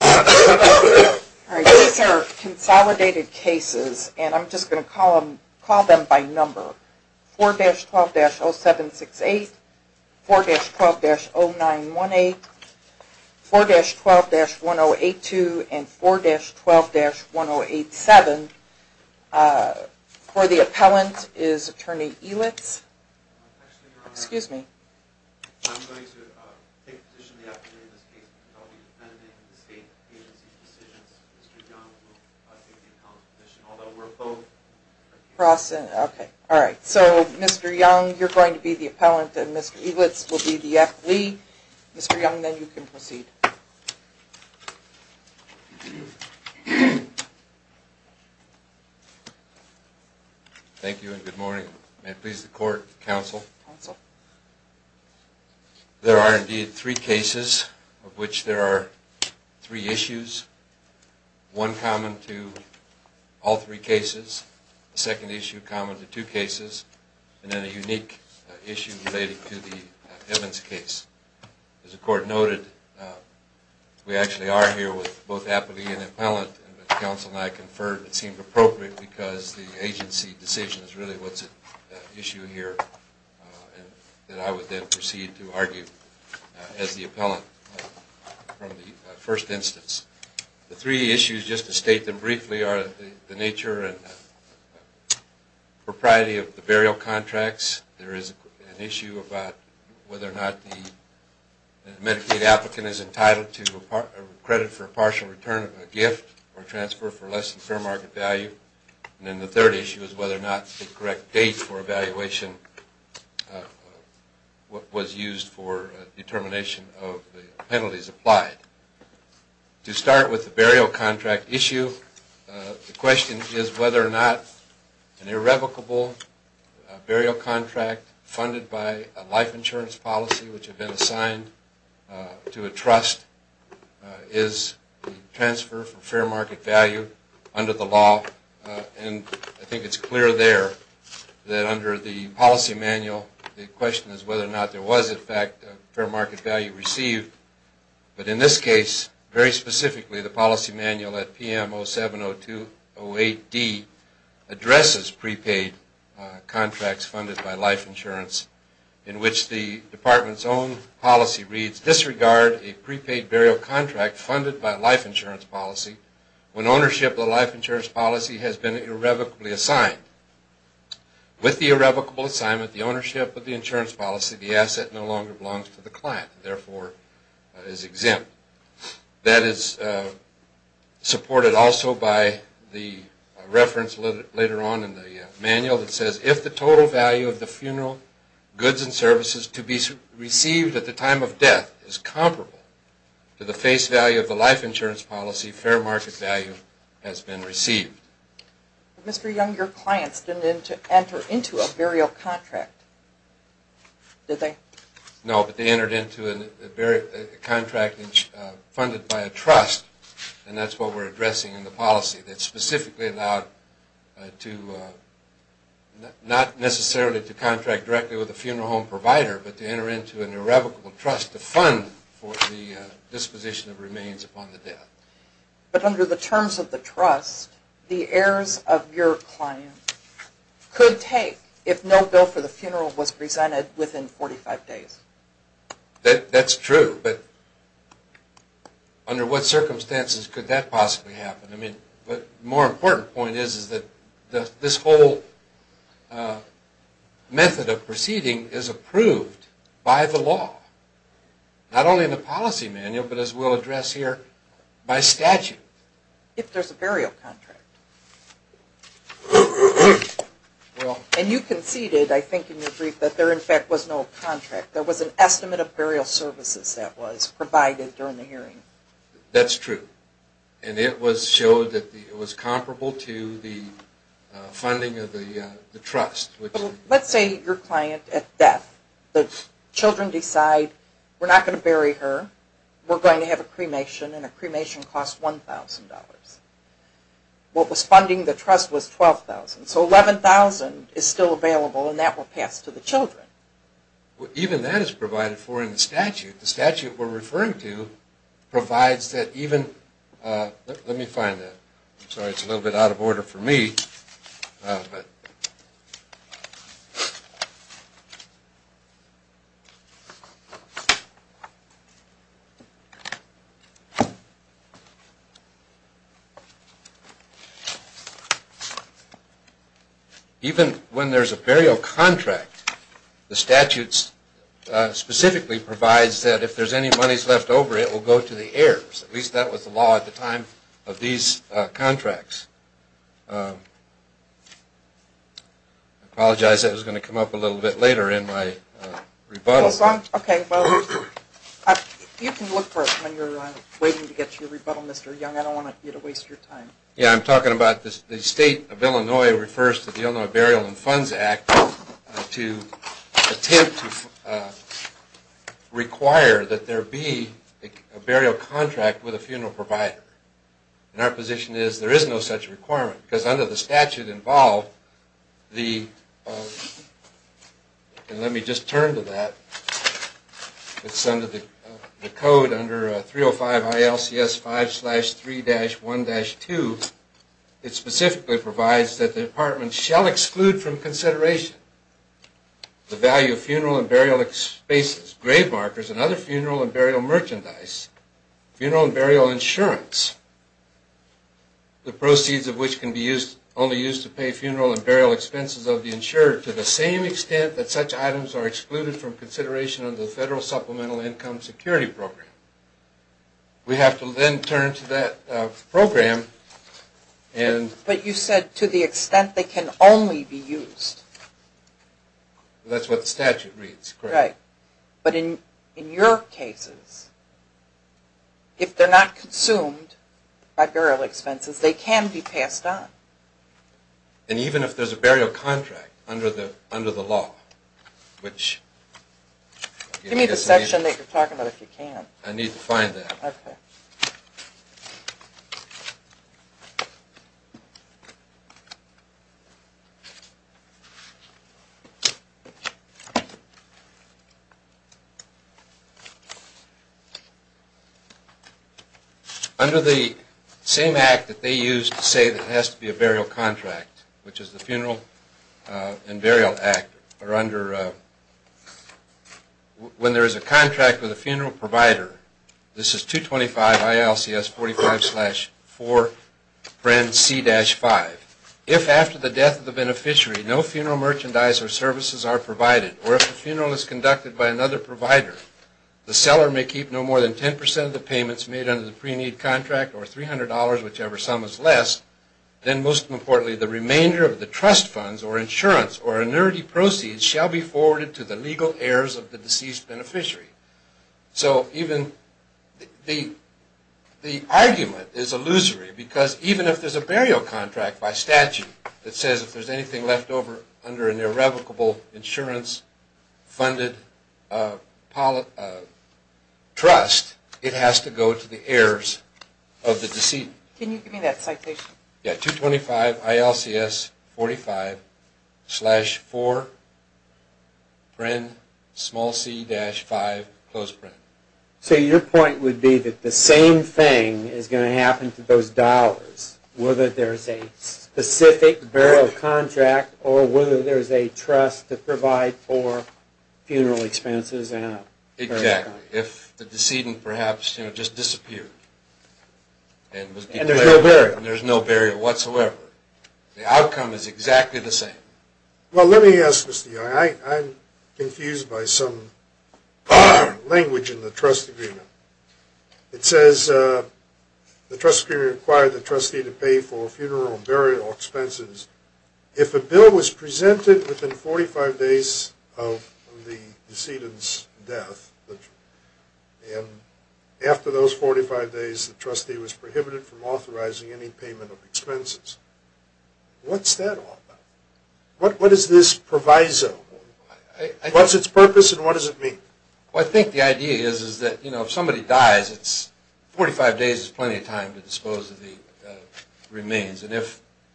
These are consolidated cases and I'm just going to call them by number. 4-12-0768, 4-12-0918, 4-12-1082, and 4-12-1087. For the appellant is Attorney Elitz. I'm going to take the position of the appellant in this case. I'll be dependent on the state agency's decisions. Mr. Young will take the appellant's position, although we're both appellants. There are indeed three cases of which there are three issues. One common to all three cases, a second issue common to two cases, and then a unique issue related to the Evans case. As the court noted, we actually are here with both appellee and appellant, and the counsel and I confirmed it seemed appropriate because the agency decision is really what's at issue here. And I would then proceed to argue as the appellant from the first instance. The three issues, just to state them briefly, are the nature and propriety of the burial contracts. There is an issue about whether or not the Medicaid applicant is entitled to credit for a partial return of a gift or transfer for less than fair market value. And then the third issue is whether or not the correct date for evaluation was used for determination of the penalties applied. To start with the burial contract issue, the question is whether or not an irrevocable burial contract funded by a life insurance policy which had been assigned to a trust is a transfer for fair market value under the law. And I think it's clear there that under the policy manual, the question is whether or not there was, in fact, fair market value received. But in this case, very specifically, the policy manual at PM 07-02-08D addresses prepaid contracts funded by life insurance in which the department's own policy reads, disregard a prepaid burial contract funded by life insurance policy when ownership of the life insurance policy has been irrevocably assigned. With the irrevocable assignment, the ownership of the insurance policy, the asset no longer belongs to the client and therefore is exempt. That is supported also by the reference later on in the manual that says if the total value of the funeral goods and services to be received at the time of death is comparable to the face value of the life insurance policy, fair market value has been received. Mr. Young, your clients didn't enter into a burial contract, did they? No, but they entered into a contract funded by a trust, and that's what we're addressing in the policy. That's specifically allowed not necessarily to contract directly with a funeral home provider, but to enter into an irrevocable trust to fund for the disposition of remains upon the death. But under the terms of the trust, the heirs of your client could take if no bill for the funeral was presented within 45 days. That's true, but under what circumstances could that possibly happen? I mean, the more important point is that this whole method of proceeding is approved by the law, not only in the policy manual, but as we'll address here, by statute. If there's a burial contract. And you conceded, I think in your brief, that there in fact was no contract. There was an estimate of burial services that was provided during the hearing. That's true, and it was shown that it was comparable to the funding of the trust. Let's say your client at death, the children decide, we're not going to bury her, we're going to have a cremation, and a cremation costs $1,000. What was funding the trust was $12,000. So $11,000 is still available and that will pass to the children. Even that is provided for in the statute. The statute we're referring to provides that even, let me find that. Sorry, it's a little bit out of order for me. Even when there's a burial contract, the statute specifically provides that if there's any monies left over, it will go to the heirs. At least that was the law at the time of these contracts. I apologize, that was going to come up a little bit later in my rebuttal. You can look for it when you're waiting to get your rebuttal, Mr. Young. I don't want you to waste your time. Yeah, I'm talking about the state of Illinois refers to the Illinois Burial and Funds Act to attempt to require that there be a burial contract with a funeral provider. Our position is there is no such requirement because under the statute involved, and let me just turn to that. It's under the code, under 305 ILCS 5-3-1-2. It specifically provides that the apartment shall exclude from consideration the value of funeral and burial spaces, grave markers, and other funeral and burial merchandise. Funeral and burial insurance, the proceeds of which can only be used to pay funeral and burial expenses of the insurer to the same extent that such items are excluded from consideration under the Federal Supplemental Income Security Program. We have to then turn to that program and... But you said to the extent they can only be used. That's what the statute reads, correct. But in your cases, if they're not consumed by burial expenses, they can be passed on. And even if there's a burial contract under the law, which... Give me the section that you're talking about if you can. I need to find that. Okay. Under the same act that they use to say there has to be a burial contract, which is the Funeral and Burial Act, or under... When there is a contract with a funeral provider, this is 225 ILCS 45-4-C-5. If after the death of the beneficiary, no funeral merchandise or services are provided, or if the funeral is conducted by another provider, the seller may keep no more than 10% of the payments made under the pre-need contract or $300, whichever sum is less, then most importantly, the remainder of the trust funds or insurance or annuity proceeds shall be forwarded to the legal heirs of the deceased beneficiary. So even the argument is illusory, because even if there's a burial contract by statute that says if there's anything left over under an irrevocable insurance-funded trust, it has to go to the heirs of the deceased. Can you give me that citation? Yeah, 225 ILCS 45-4-C-5. So your point would be that the same thing is going to happen to those dollars, whether there's a specific burial contract or whether there's a trust to provide for funeral expenses? Exactly. If the decedent perhaps just disappeared and there's no burial whatsoever, the outcome is exactly the same? Well, let me ask this to you. I'm confused by some language in the trust agreement. It says the trust agreement required the trustee to pay for funeral and burial expenses. If a bill was presented within 45 days of the decedent's death, and after those 45 days the trustee was prohibited from authorizing any payment of expenses, what's that all about? What is this proviso? What's its purpose and what does it mean? Well, I think the idea is that if somebody dies, 45 days is plenty of time to dispose of the remains.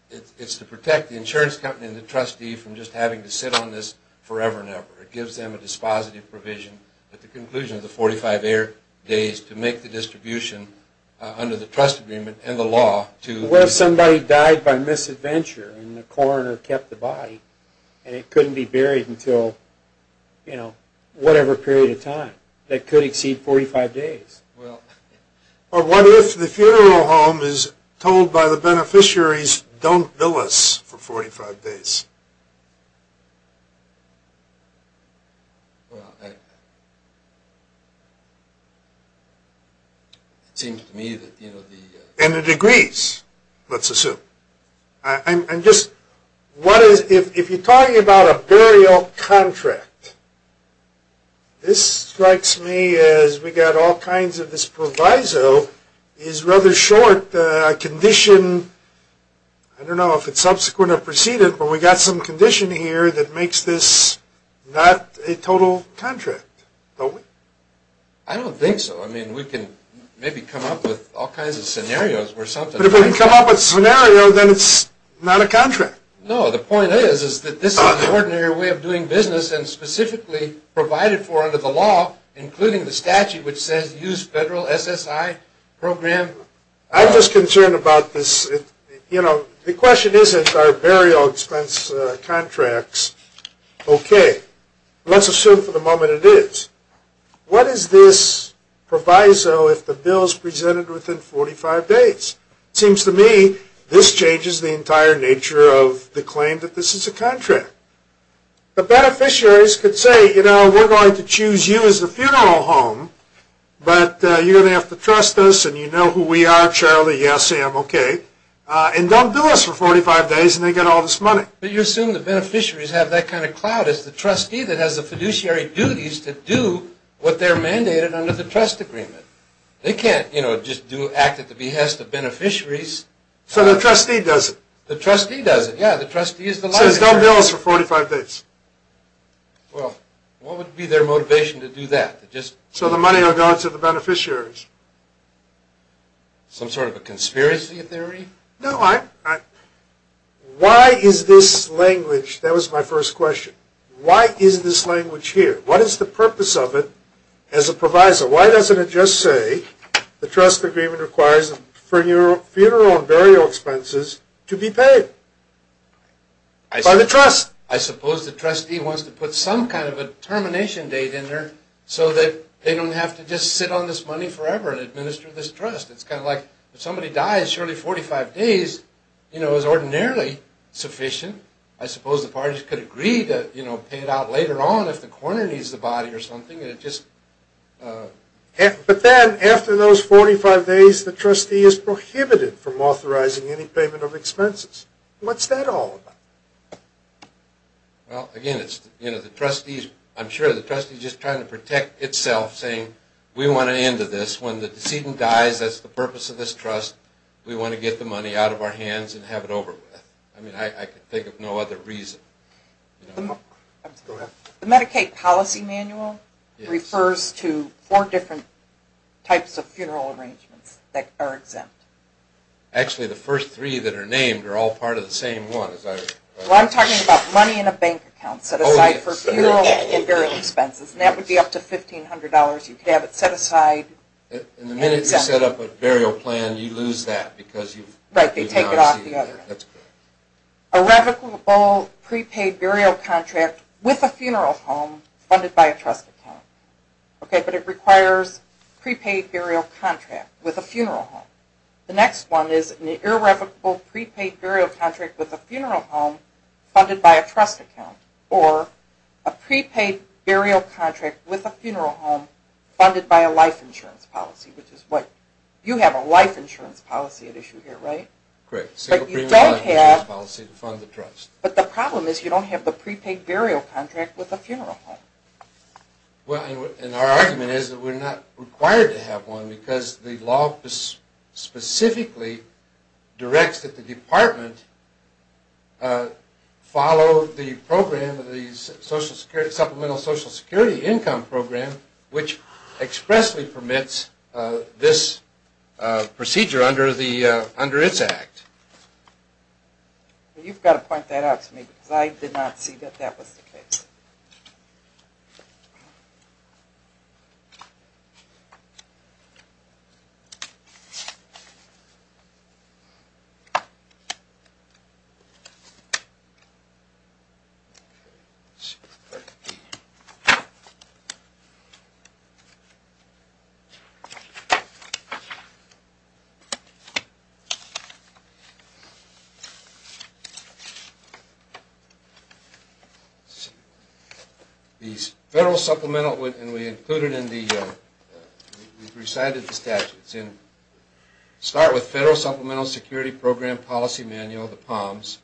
It's to protect the insurance company and the trustee from just having to sit on this forever and ever. It gives them a dispositive provision at the conclusion of the 45 days to make the distribution under the trust agreement and the law. What if somebody died by misadventure and the coroner kept the body and it couldn't be buried until whatever period of time? That could exceed 45 days. What if the funeral home is told by the beneficiaries, don't bill us for 45 days? Well, it seems to me that the... And it agrees, let's assume. If you're talking about a burial contract, this strikes me as we got all kinds of this proviso. It's rather short. A condition, I don't know if it's subsequent or preceded, but we got some condition here that makes this not a total contract, don't we? I don't think so. I mean, we can maybe come up with all kinds of scenarios or something. But if we can come up with a scenario, then it's not a contract. No, the point is that this is an ordinary way of doing business and specifically provided for under the law, including the statute which says use federal SSI program. I'm just concerned about this. You know, the question isn't are burial expense contracts okay? Let's assume for the moment it is. What is this proviso if the bill is presented within 45 days? It seems to me this changes the entire nature of the claim that this is a contract. The beneficiaries could say, you know, we're going to choose you as the funeral home, but you're going to have to trust us and you know who we are, Charlie, yes, Sam, okay, and don't do us for 45 days and they get all this money. But you assume the beneficiaries have that kind of clout as the trustee that has the fiduciary duties to do what they're mandated under the trust agreement. They can't, you know, just act at the behest of beneficiaries. So the trustee does it? The trustee does it, yeah. The trustee says don't do us for 45 days. Well, what would be their motivation to do that? So the money will go to the beneficiaries. Some sort of a conspiracy theory? No, why is this language, that was my first question, why is this language here? What is the purpose of it as a proviso? Why doesn't it just say the trust agreement requires funeral and burial expenses to be paid by the trust? I suppose the trustee wants to put some kind of a termination date in there so that they don't have to just sit on this money forever and administer this trust. It's kind of like if somebody dies, surely 45 days, you know, is ordinarily sufficient. I suppose the parties could agree to pay it out later on if the coroner needs the body or something. But then after those 45 days, the trustee is prohibited from authorizing any payment of expenses. What's that all about? Well, again, I'm sure the trustee is just trying to protect itself, saying we want an end to this. When the decedent dies, that's the purpose of this trust. We want to get the money out of our hands and have it over with. I mean, I can think of no other reason. Go ahead. The Medicaid policy manual refers to four different types of funeral arrangements that are exempt. Actually, the first three that are named are all part of the same one. Well, I'm talking about money in a bank account set aside for funeral and burial expenses, and that would be up to $1,500. You could have it set aside. And the minute you set up a burial plan, you lose that because you've not received it. Irrevocable prepaid burial contract with a funeral home funded by a trust account. But it requires prepaid burial contract with a funeral home. The next one is an irrevocable prepaid burial contract with a funeral home funded by a trust account, or a prepaid burial contract with a funeral home funded by a life insurance policy, which is what you have a life insurance policy at issue here, right? Correct, single premium life insurance policy to fund the trust. But the problem is you don't have the prepaid burial contract with a funeral home. Well, and our argument is that we're not required to have one because the law specifically directs that the department follow the program of the Supplemental Social Security Income Program, which expressly permits this procedure under its act. You've got to point that out to me because I did not see that that was the case. The Federal Supplemental Security Program Policy Manual, the POMS,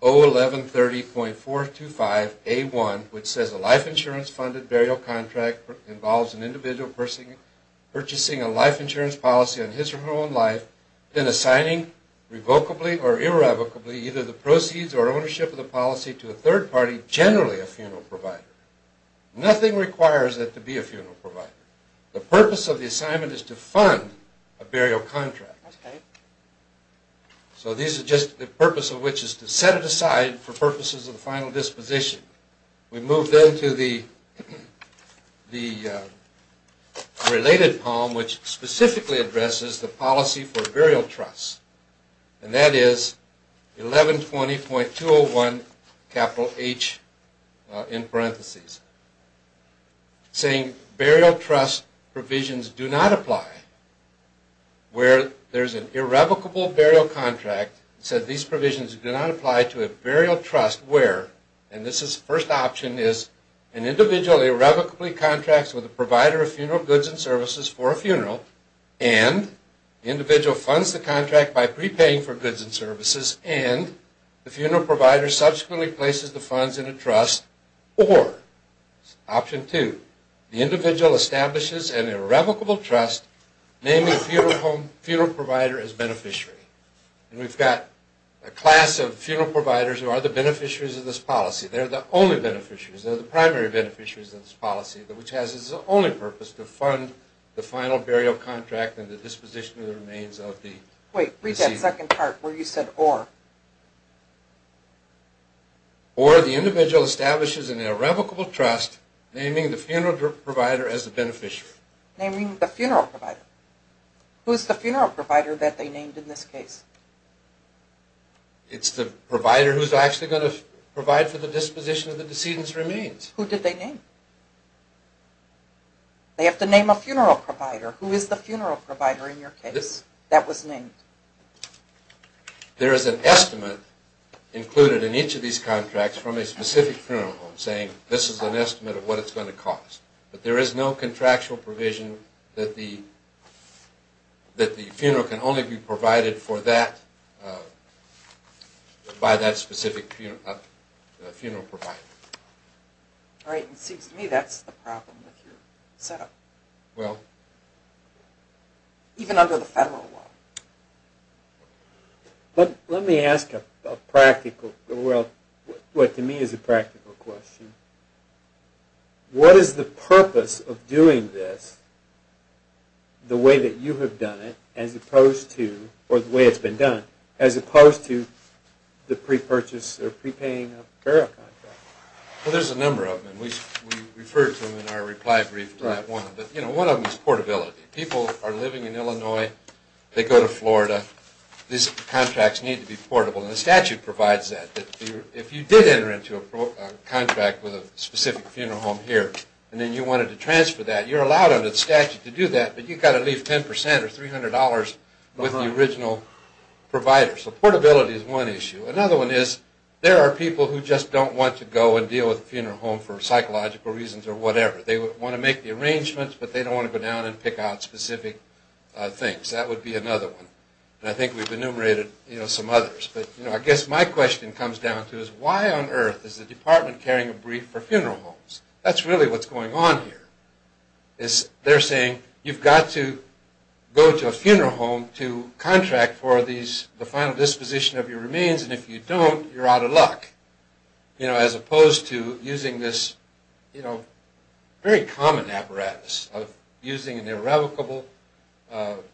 01130.425A1, which says a life insurance funded burial contract involves an individual purchasing a life insurance policy on his or her own life, then assigning revocably or irrevocably either the proceeds or ownership of the policy to a third party, generally a funeral provider. Nothing requires that to be a funeral provider. The purpose of the assignment is to fund a burial contract. So this is just the purpose of which is to set it aside for purposes of the final disposition. We move then to the related POM, which specifically addresses the policy for burial trusts. And that is 1120.201 capital H in parentheses. Saying burial trust provisions do not apply where there's an irrevocable burial contract. It says these provisions do not apply to a burial trust where, and this is the first option, is an individual irrevocably contracts with a provider of funeral goods and services for a funeral and the individual funds the contract by prepaying for goods and services and the funeral provider subsequently places the funds in a trust or, option two, the individual establishes an irrevocable trust, naming the funeral provider as beneficiary. And we've got a class of funeral providers who are the beneficiaries of this policy. They're the only beneficiaries. They're the primary beneficiaries of this policy, which has as its only purpose to fund the final burial contract and the disposition of the remains of the decedent. Wait, read that second part where you said or. Or the individual establishes an irrevocable trust, naming the funeral provider as the beneficiary. Naming the funeral provider. Who's the funeral provider that they named in this case? It's the provider who's actually going to provide for the disposition of the decedent's remains. Who did they name? They have to name a funeral provider. Who is the funeral provider in your case that was named? There is an estimate included in each of these contracts from a specific funeral home saying, this is an estimate of what it's going to cost. But there is no contractual provision that the funeral can only be provided for that by that specific funeral provider. All right. It seems to me that's the problem with your setup. Well. Even under the federal law. Let me ask a practical, well, what to me is a practical question. What is the purpose of doing this the way that you have done it as opposed to, or the way it's been done, as opposed to the pre-purchase or pre-paying of a burial contract? Well, there's a number of them. We refer to them in our reply brief to that one. But, you know, one of them is portability. People are living in Illinois. They go to Florida. These contracts need to be portable. And the statute provides that, that if you did enter into a contract with a specific funeral home here and then you wanted to transfer that, you're allowed under the statute to do that, but you've got to leave 10% or $300 with the original provider. So portability is one issue. Another one is there are people who just don't want to go and deal with a funeral home for psychological reasons or whatever. They want to make the arrangements, but they don't want to go down and pick out specific things. That would be another one. And I think we've enumerated some others. But, you know, I guess my question comes down to is, why on earth is the department carrying a brief for funeral homes? That's really what's going on here. They're saying you've got to go to a funeral home to contract for the final disposition of your remains, and if you don't, you're out of luck, you know, as opposed to using this, you know, very common apparatus of using an irrevocable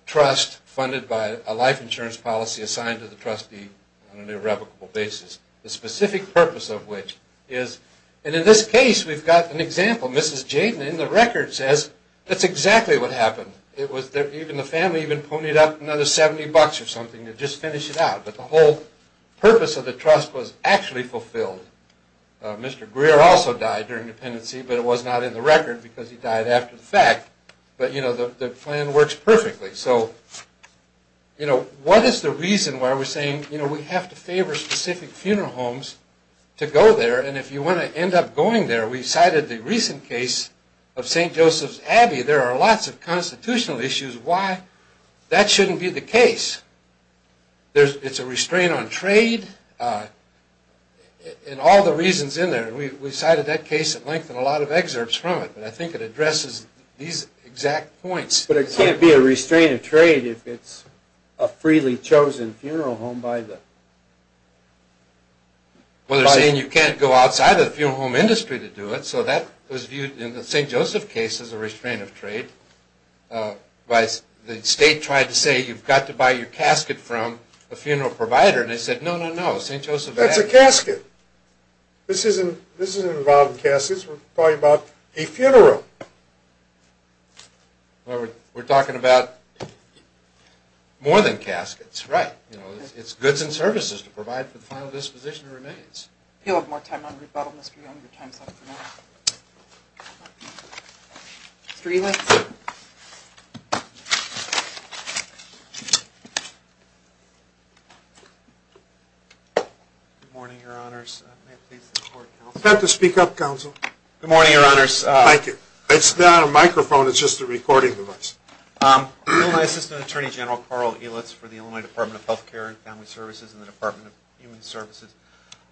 trust funded by a life insurance policy assigned to the trustee on an irrevocable basis. The specific purpose of which is, and in this case, we've got an example. Mrs. Jaden in the record says that's exactly what happened. It was that even the family even ponied up another 70 bucks or something to just finish it out. But the whole purpose of the trust was actually fulfilled. Mr. Greer also died during dependency, but it was not in the record because he died after the fact. But, you know, the plan works perfectly. So, you know, what is the reason why we're saying, you know, we have to favor specific funeral homes to go there? And if you want to end up going there, we cited the recent case of St. Joseph's Abbey. There are lots of constitutional issues why that shouldn't be the case. It's a restraint on trade and all the reasons in there. We cited that case at length in a lot of excerpts from it, but I think it addresses these exact points. But it can't be a restraint of trade if it's a freely chosen funeral home by the… Well, they're saying you can't go outside of the funeral home industry to do it, so that was viewed in the St. Joseph case as a restraint of trade. The state tried to say you've got to buy your casket from a funeral provider, and they said, no, no, no, St. Joseph Abbey… That's a casket. This isn't about caskets. We're talking about a funeral. Well, we're talking about more than caskets. Right. It's goods and services to provide for the final disposition of remains. If you'll have more time, Mr. Young, your time is up for now. Mr. Elitz. Good morning, Your Honors. I'd like to speak up, Counsel. Good morning, Your Honors. Thank you. It's not a microphone. It's just a recording device. Illinois Assistant Attorney General Carl Elitz for the Illinois Department of Health Care and Family Services and the Department of Human Services.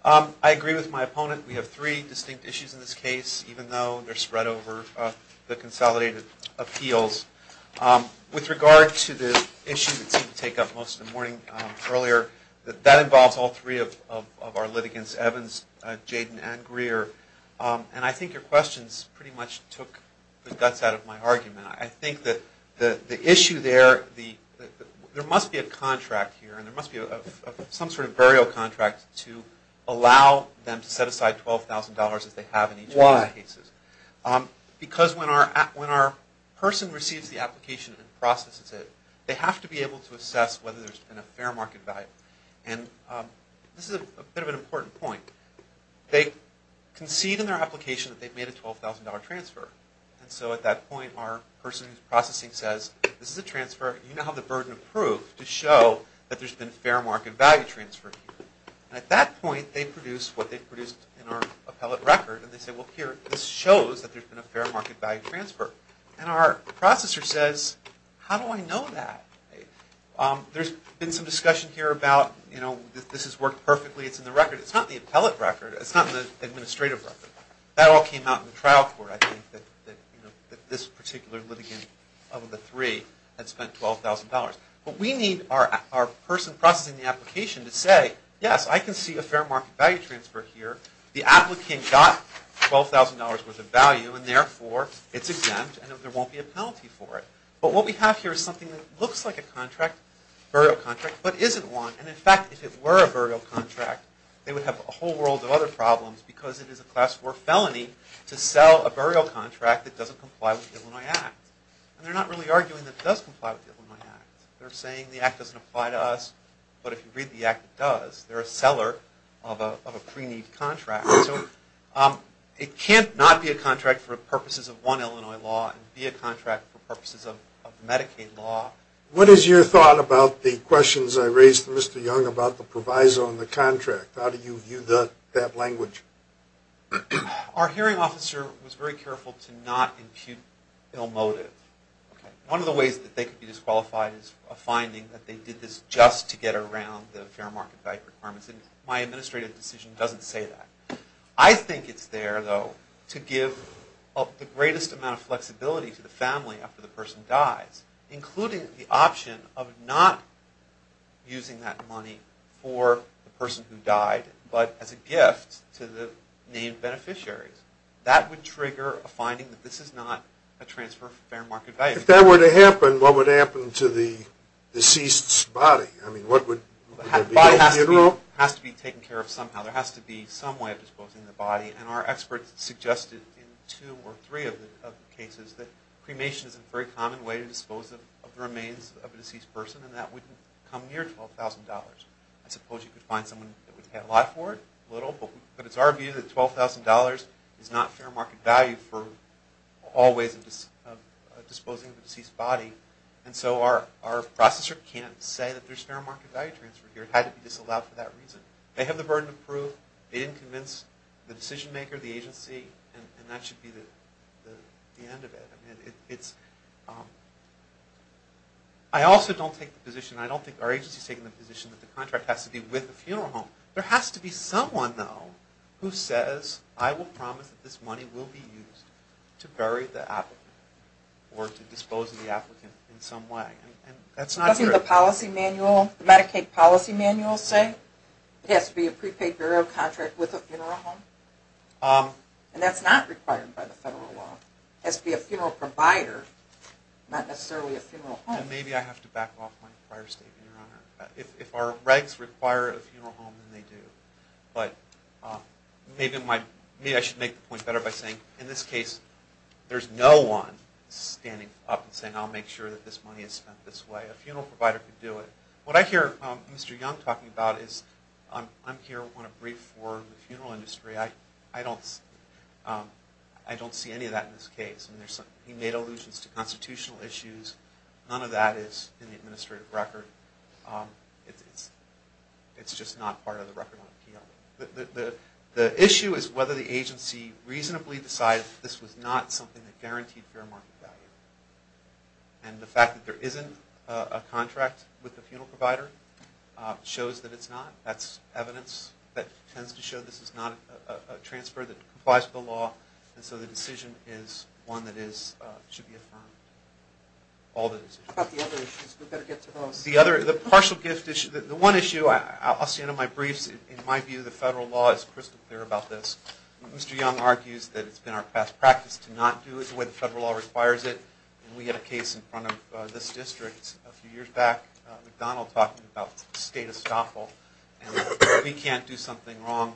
I agree with my opponent. We have three distinct issues in this case, even though they're spread over the consolidated appeals. With regard to the issue that seemed to take up most of the morning earlier, that involves all three of our litigants, Evans, Jaden, and Greer. And I think your questions pretty much took the guts out of my argument. I think that the issue there, there must be a contract here, and there must be some sort of burial contract to allow them to set aside $12,000 as they have in each of these cases. Why? Because when our person receives the application and processes it, they have to be able to assess whether there's been a fair market value. And this is a bit of an important point. They concede in their application that they've made a $12,000 transfer. And so at that point, our person who's processing says, this is a transfer. You now have the burden of proof to show that there's been a fair market value transfer here. And at that point, they've produced what they've produced in our appellate record. And they say, well, here, this shows that there's been a fair market value transfer. And our processor says, how do I know that? There's been some discussion here about, you know, this has worked perfectly. It's in the record. It's not in the appellate record. It's not in the administrative record. That all came out in the trial court, I think, that this particular litigant of the three had spent $12,000. But we need our person processing the application to say, yes, I can see a fair market value transfer here. The applicant got $12,000 worth of value. And therefore, it's exempt, and there won't be a penalty for it. But what we have here is something that looks like a contract, a burial contract, but isn't one. And in fact, if it were a burial contract, they would have a whole world of other problems because it is a Class IV felony to sell a burial contract that doesn't comply with the Illinois Act. And they're not really arguing that it does comply with the Illinois Act. They're saying the Act doesn't apply to us. But if you read the Act, it does. They're a seller of a pre-need contract. So it can't not be a contract for purposes of one Illinois law and be a contract for purposes of Medicaid law. What is your thought about the questions I raised to Mr. Young about the proviso on the contract? How do you view that language? Our hearing officer was very careful to not impute ill motive. One of the ways that they could be disqualified is a finding that they did this just to get around the fair market value requirements. And my administrative decision doesn't say that. I think it's there, though, to give the greatest amount of flexibility to the family after the person dies, including the option of not using that money for the person who died, but as a gift to the named beneficiaries. That would trigger a finding that this is not a transfer of fair market value. If that were to happen, what would happen to the deceased's body? I mean, would there be a funeral? The body has to be taken care of somehow. There has to be some way of disposing the body. And our experts suggested in two or three of the cases that cremation is a very common way to dispose of the remains of a deceased person, and that wouldn't come near $12,000. I suppose you could find someone that would pay a lot for it, a little, but it's our view that $12,000 is not fair market value for all ways of disposing of a deceased body. And so our processor can't say that there's fair market value transfer here. It had to be disallowed for that reason. They have the burden of proof. They didn't convince the decision maker, the agency, and that should be the end of it. I also don't take the position, I don't think our agency is taking the position, that the contract has to be with the funeral home. There has to be someone, though, who says, I will promise that this money will be used to bury the applicant or to dispose of the applicant in some way. And that's not true. Doesn't the policy manual, the Medicaid policy manual say it has to be a prepaid burial contract with a funeral home? And that's not required by the federal law. It has to be a funeral provider, not necessarily a funeral home. And maybe I have to back off my prior statement, Your Honor. If our regs require a funeral home, then they do. But maybe I should make the point better by saying, in this case, there's no one standing up and saying, I'll make sure that this money is spent this way. A funeral provider could do it. What I hear Mr. Young talking about is, I'm here on a brief for the funeral industry. I don't see any of that in this case. He made allusions to constitutional issues. None of that is in the administrative record. It's just not part of the record on appeal. The issue is whether the agency reasonably decided that this was not something that guaranteed fair market value. And the fact that there isn't a contract with the funeral provider shows that it's not. That's evidence that tends to show this is not a transfer that complies with the law. And so the decision is one that should be affirmed. How about the other issues? We better get to those. The partial gift issue. The one issue, I'll say in my briefs, in my view, the federal law is crystal clear about this. Mr. Young argues that it's been our best practice to not do it the way the federal law requires it. And we had a case in front of this district a few years back, McDonald talking about state estoppel, and we can't do something wrong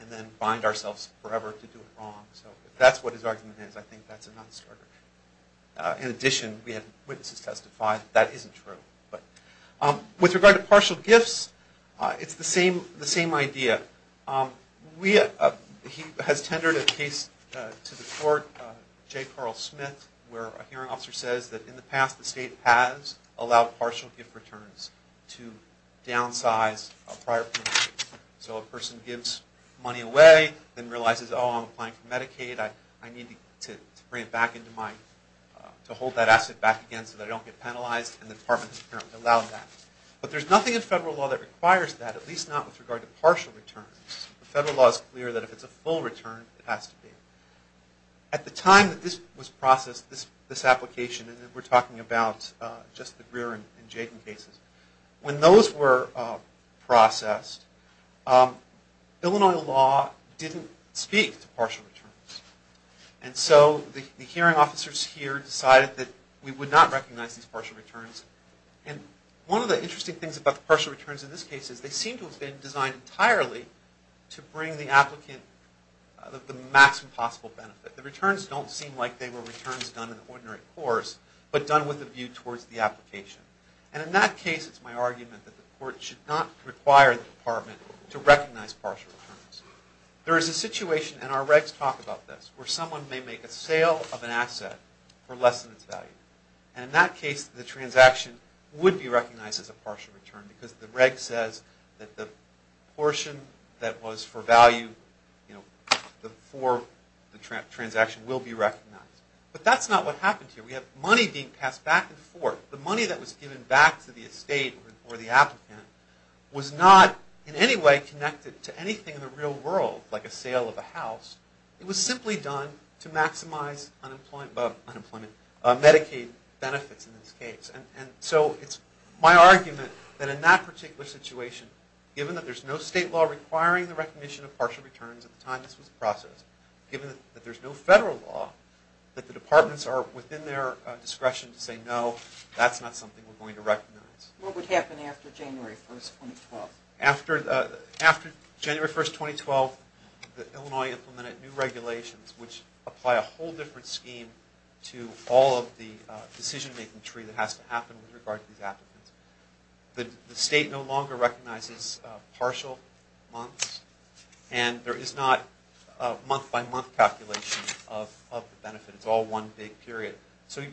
and then bind ourselves forever to do it wrong. So that's what his argument is. I think that's a non-starter. In addition, we had witnesses testify that that isn't true. With regard to partial gifts, it's the same idea. He has tendered a case to the court, J. Carl Smith, where a hearing officer says that in the past, the state has allowed partial gift returns to downsize a prior payment. So a person gives money away, then realizes, oh, I'm applying for Medicaid, I need to bring it back into my... to hold that asset back again so that I don't get penalized, and the department has apparently allowed that. But there's nothing in federal law that requires that, at least not with regard to partial returns. The federal law is clear that if it's a full return, it has to be. At the time that this was processed, this application, and we're talking about just the Greer and Jaden cases, when those were processed, Illinois law didn't speak to partial returns. And so the hearing officers here decided that we would not recognize these partial returns. And one of the interesting things about the partial returns in this case is they seem to have been designed entirely to bring the applicant the maximum possible benefit. The returns don't seem like they were returns done in the ordinary course, but done with a view towards the application. And in that case, it's my argument that the court should not require the department to recognize partial returns. There is a situation, and our regs talk about this, where someone may make a sale of an asset for less than its value. And in that case, the transaction would be recognized as a partial return because the reg says that the portion that was for value for the transaction will be recognized. But that's not what happened here. We have money being passed back and forth. The money that was given back to the estate or the applicant was not in any way connected to anything in the real world, like a sale of a house. It was simply done to maximize Medicaid benefits in this case. And so it's my argument that in that particular situation, given that there's no state law requiring the recognition of partial returns at the time this was processed, given that there's no federal law, that the departments are within their discretion to say, no, that's not something we're going to recognize. What would happen after January 1, 2012? After January 1, 2012, Illinois implemented new regulations which apply a whole different scheme to all of the decision-making tree that has to happen with regard to these applicants. The state no longer recognizes partial months, and there is not a month-by-month calculation of the benefit. It's all one big period. So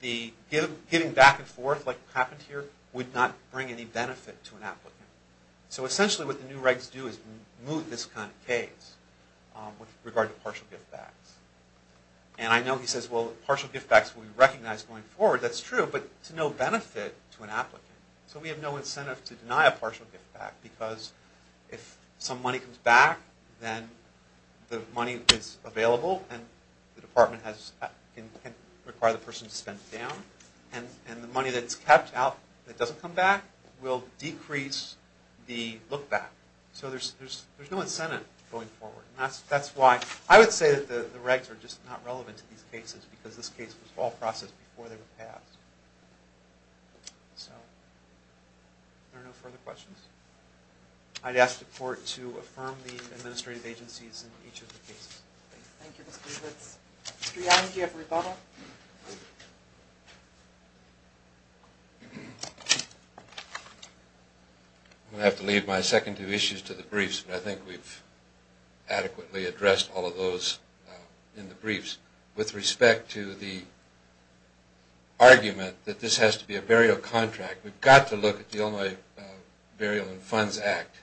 the giving back and forth, like happened here, would not bring any benefit to an applicant. So essentially what the new regs do is move this kind of case with regard to partial give-backs. And I know he says, well, partial give-backs will be recognized going forward. That's true, but to no benefit to an applicant. So we have no incentive to deny a partial give-back because if some money comes back, then the money is available and the department can require the person to spend it down. And the money that's kept out, that doesn't come back, will decrease the look-back. So there's no incentive going forward. That's why I would say that the regs are just not relevant to these cases because this case was all processed before they were passed. So are there no further questions? I'd ask the court to affirm the administrative agencies in each of the cases. Thank you, Mr. Leibovitz. Mr. Young, do you have a rebuttal? I'm going to have to leave my second two issues to the briefs, but I think we've adequately addressed all of those in the briefs. With respect to the argument that this has to be a burial contract, we've got to look at the Illinois Burial and Funds Act.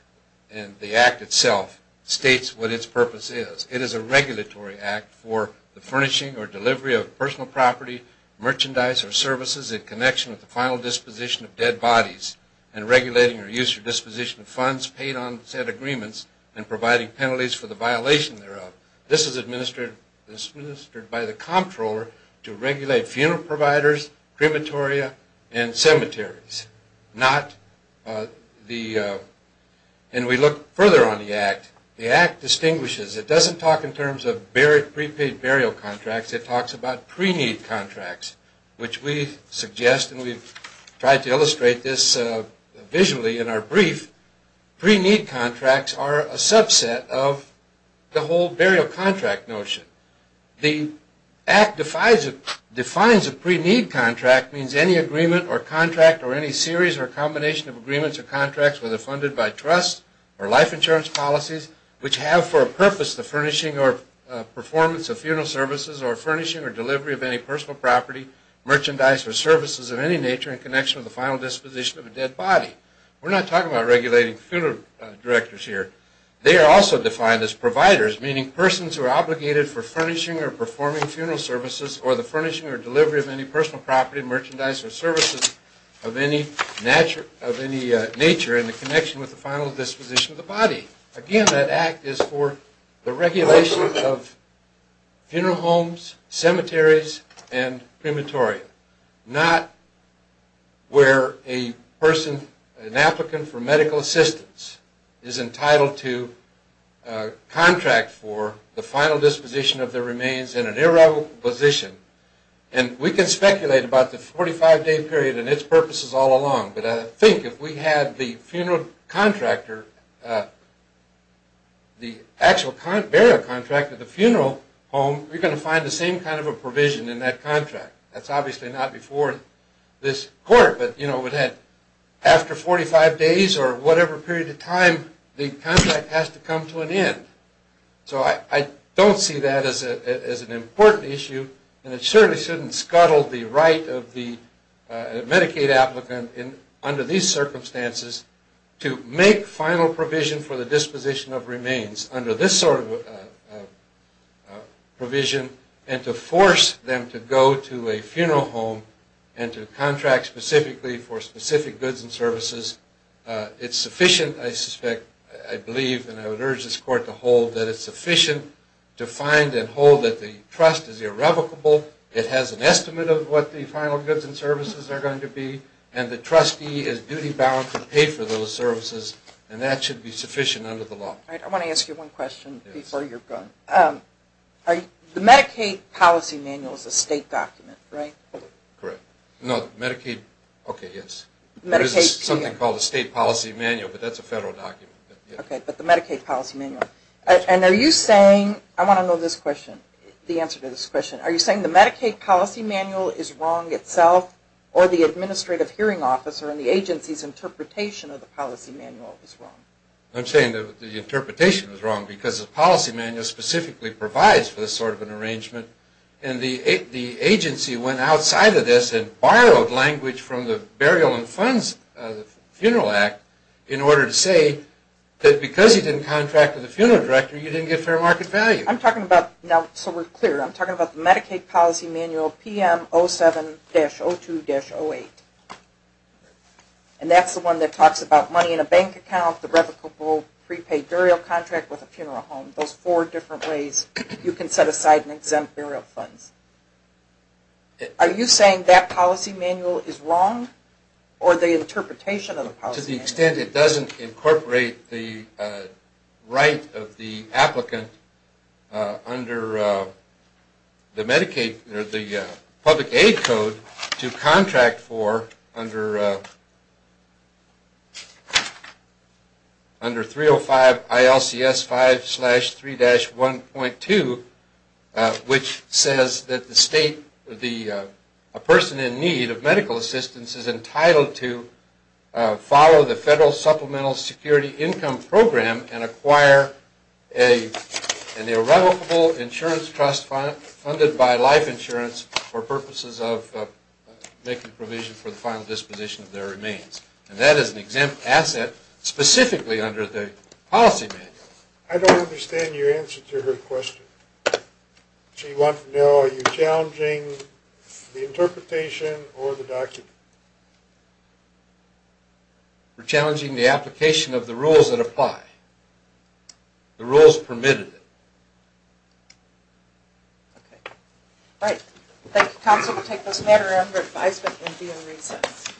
And the act itself states what its purpose is. It is a regulatory act for the furnishing or delivery of personal property, merchandise, or services in connection with the final disposition of dead bodies, and regulating or use or disposition of funds paid on said agreements and providing penalties for the violation thereof. This is administered by the comptroller to regulate funeral providers, crematoria, and cemeteries. And we look further on the act. The act distinguishes. It doesn't talk in terms of prepaid burial contracts. It talks about pre-need contracts, which we suggest, and we've tried to illustrate this visually in our brief. Pre-need contracts are a subset of the whole burial contract notion. The act defines a pre-need contract means any agreement or contract or any series or combination of agreements or contracts, whether funded by trust or life insurance policies, which have for a purpose the furnishing or performance of funeral services or furnishing or delivery of any personal property, merchandise, or services of any nature in connection with the final disposition of a dead body. We're not talking about regulating funeral directors here. They are also defined as providers, meaning persons who are obligated for furnishing or performing funeral services or the furnishing or delivery of any personal property, merchandise, or services of any nature in connection with the final disposition of the body. Again, that act is for the regulation of funeral homes, cemeteries, and crematoria, not where a person, an applicant for medical assistance, is entitled to contract for the final disposition of the remains in an irrevocable position. We can speculate about the 45-day period and its purposes all along, but I think if we had the funeral contractor, the actual burial contractor of the funeral home, we're going to find the same kind of a provision in that contract. That's obviously not before this court, but after 45 days or whatever period of time, the contract has to come to an end. So I don't see that as an important issue, and it certainly shouldn't scuttle the right of the Medicaid applicant under these circumstances to make final provision for the disposition of remains under this sort of provision and to force them to go to a funeral home and to contract specifically for specific goods and services. It's sufficient, I believe, and I would urge this court to hold, that it's sufficient to find and hold that the trust is irrevocable, it has an estimate of what the final goods and services are going to be, and the trustee is duty-bound to pay for those services, and that should be sufficient under the law. I want to ask you one question before you're gone. The Medicaid policy manual is a state document, right? Correct. No, Medicaid... Okay, yes. There is something called a state policy manual, but that's a federal document. Okay, but the Medicaid policy manual. And are you saying, I want to know this question, the answer to this question. Are you saying the Medicaid policy manual is wrong itself or the administrative hearing officer and the agency's interpretation of the policy manual is wrong? I'm saying the interpretation is wrong because the policy manual specifically provides for this sort of an arrangement, and the agency went outside of this and borrowed language from the Burial and Funds Funeral Act in order to say that because you didn't contract with the funeral director, you didn't get fair market value. I'm talking about, now so we're clear, I'm talking about the Medicaid policy manual PM 07-02-08. And that's the one that talks about money in a bank account, the revocable prepaid burial contract with a funeral home. Those four different ways you can set aside and exempt burial funds. Are you saying that policy manual is wrong or the interpretation of the policy manual? To the extent it doesn't incorporate the right of the applicant under the Medicaid, the public aid code to contract for under 305 ILCS 5-3-1.2, which says that the state, a person in need of medical assistance is entitled to follow the federal supplemental security income program and acquire an irrevocable insurance trust funded by life insurance for purposes of making provision for the final disposition of their remains. And that is an exempt asset specifically under the policy manual. I don't understand your answer to her question. She wants to know are you challenging the interpretation or the document? We're challenging the application of the rules that apply. The rules permitted it. Okay. All right. Thank you, counsel. We'll take this matter under advisement and be in recess.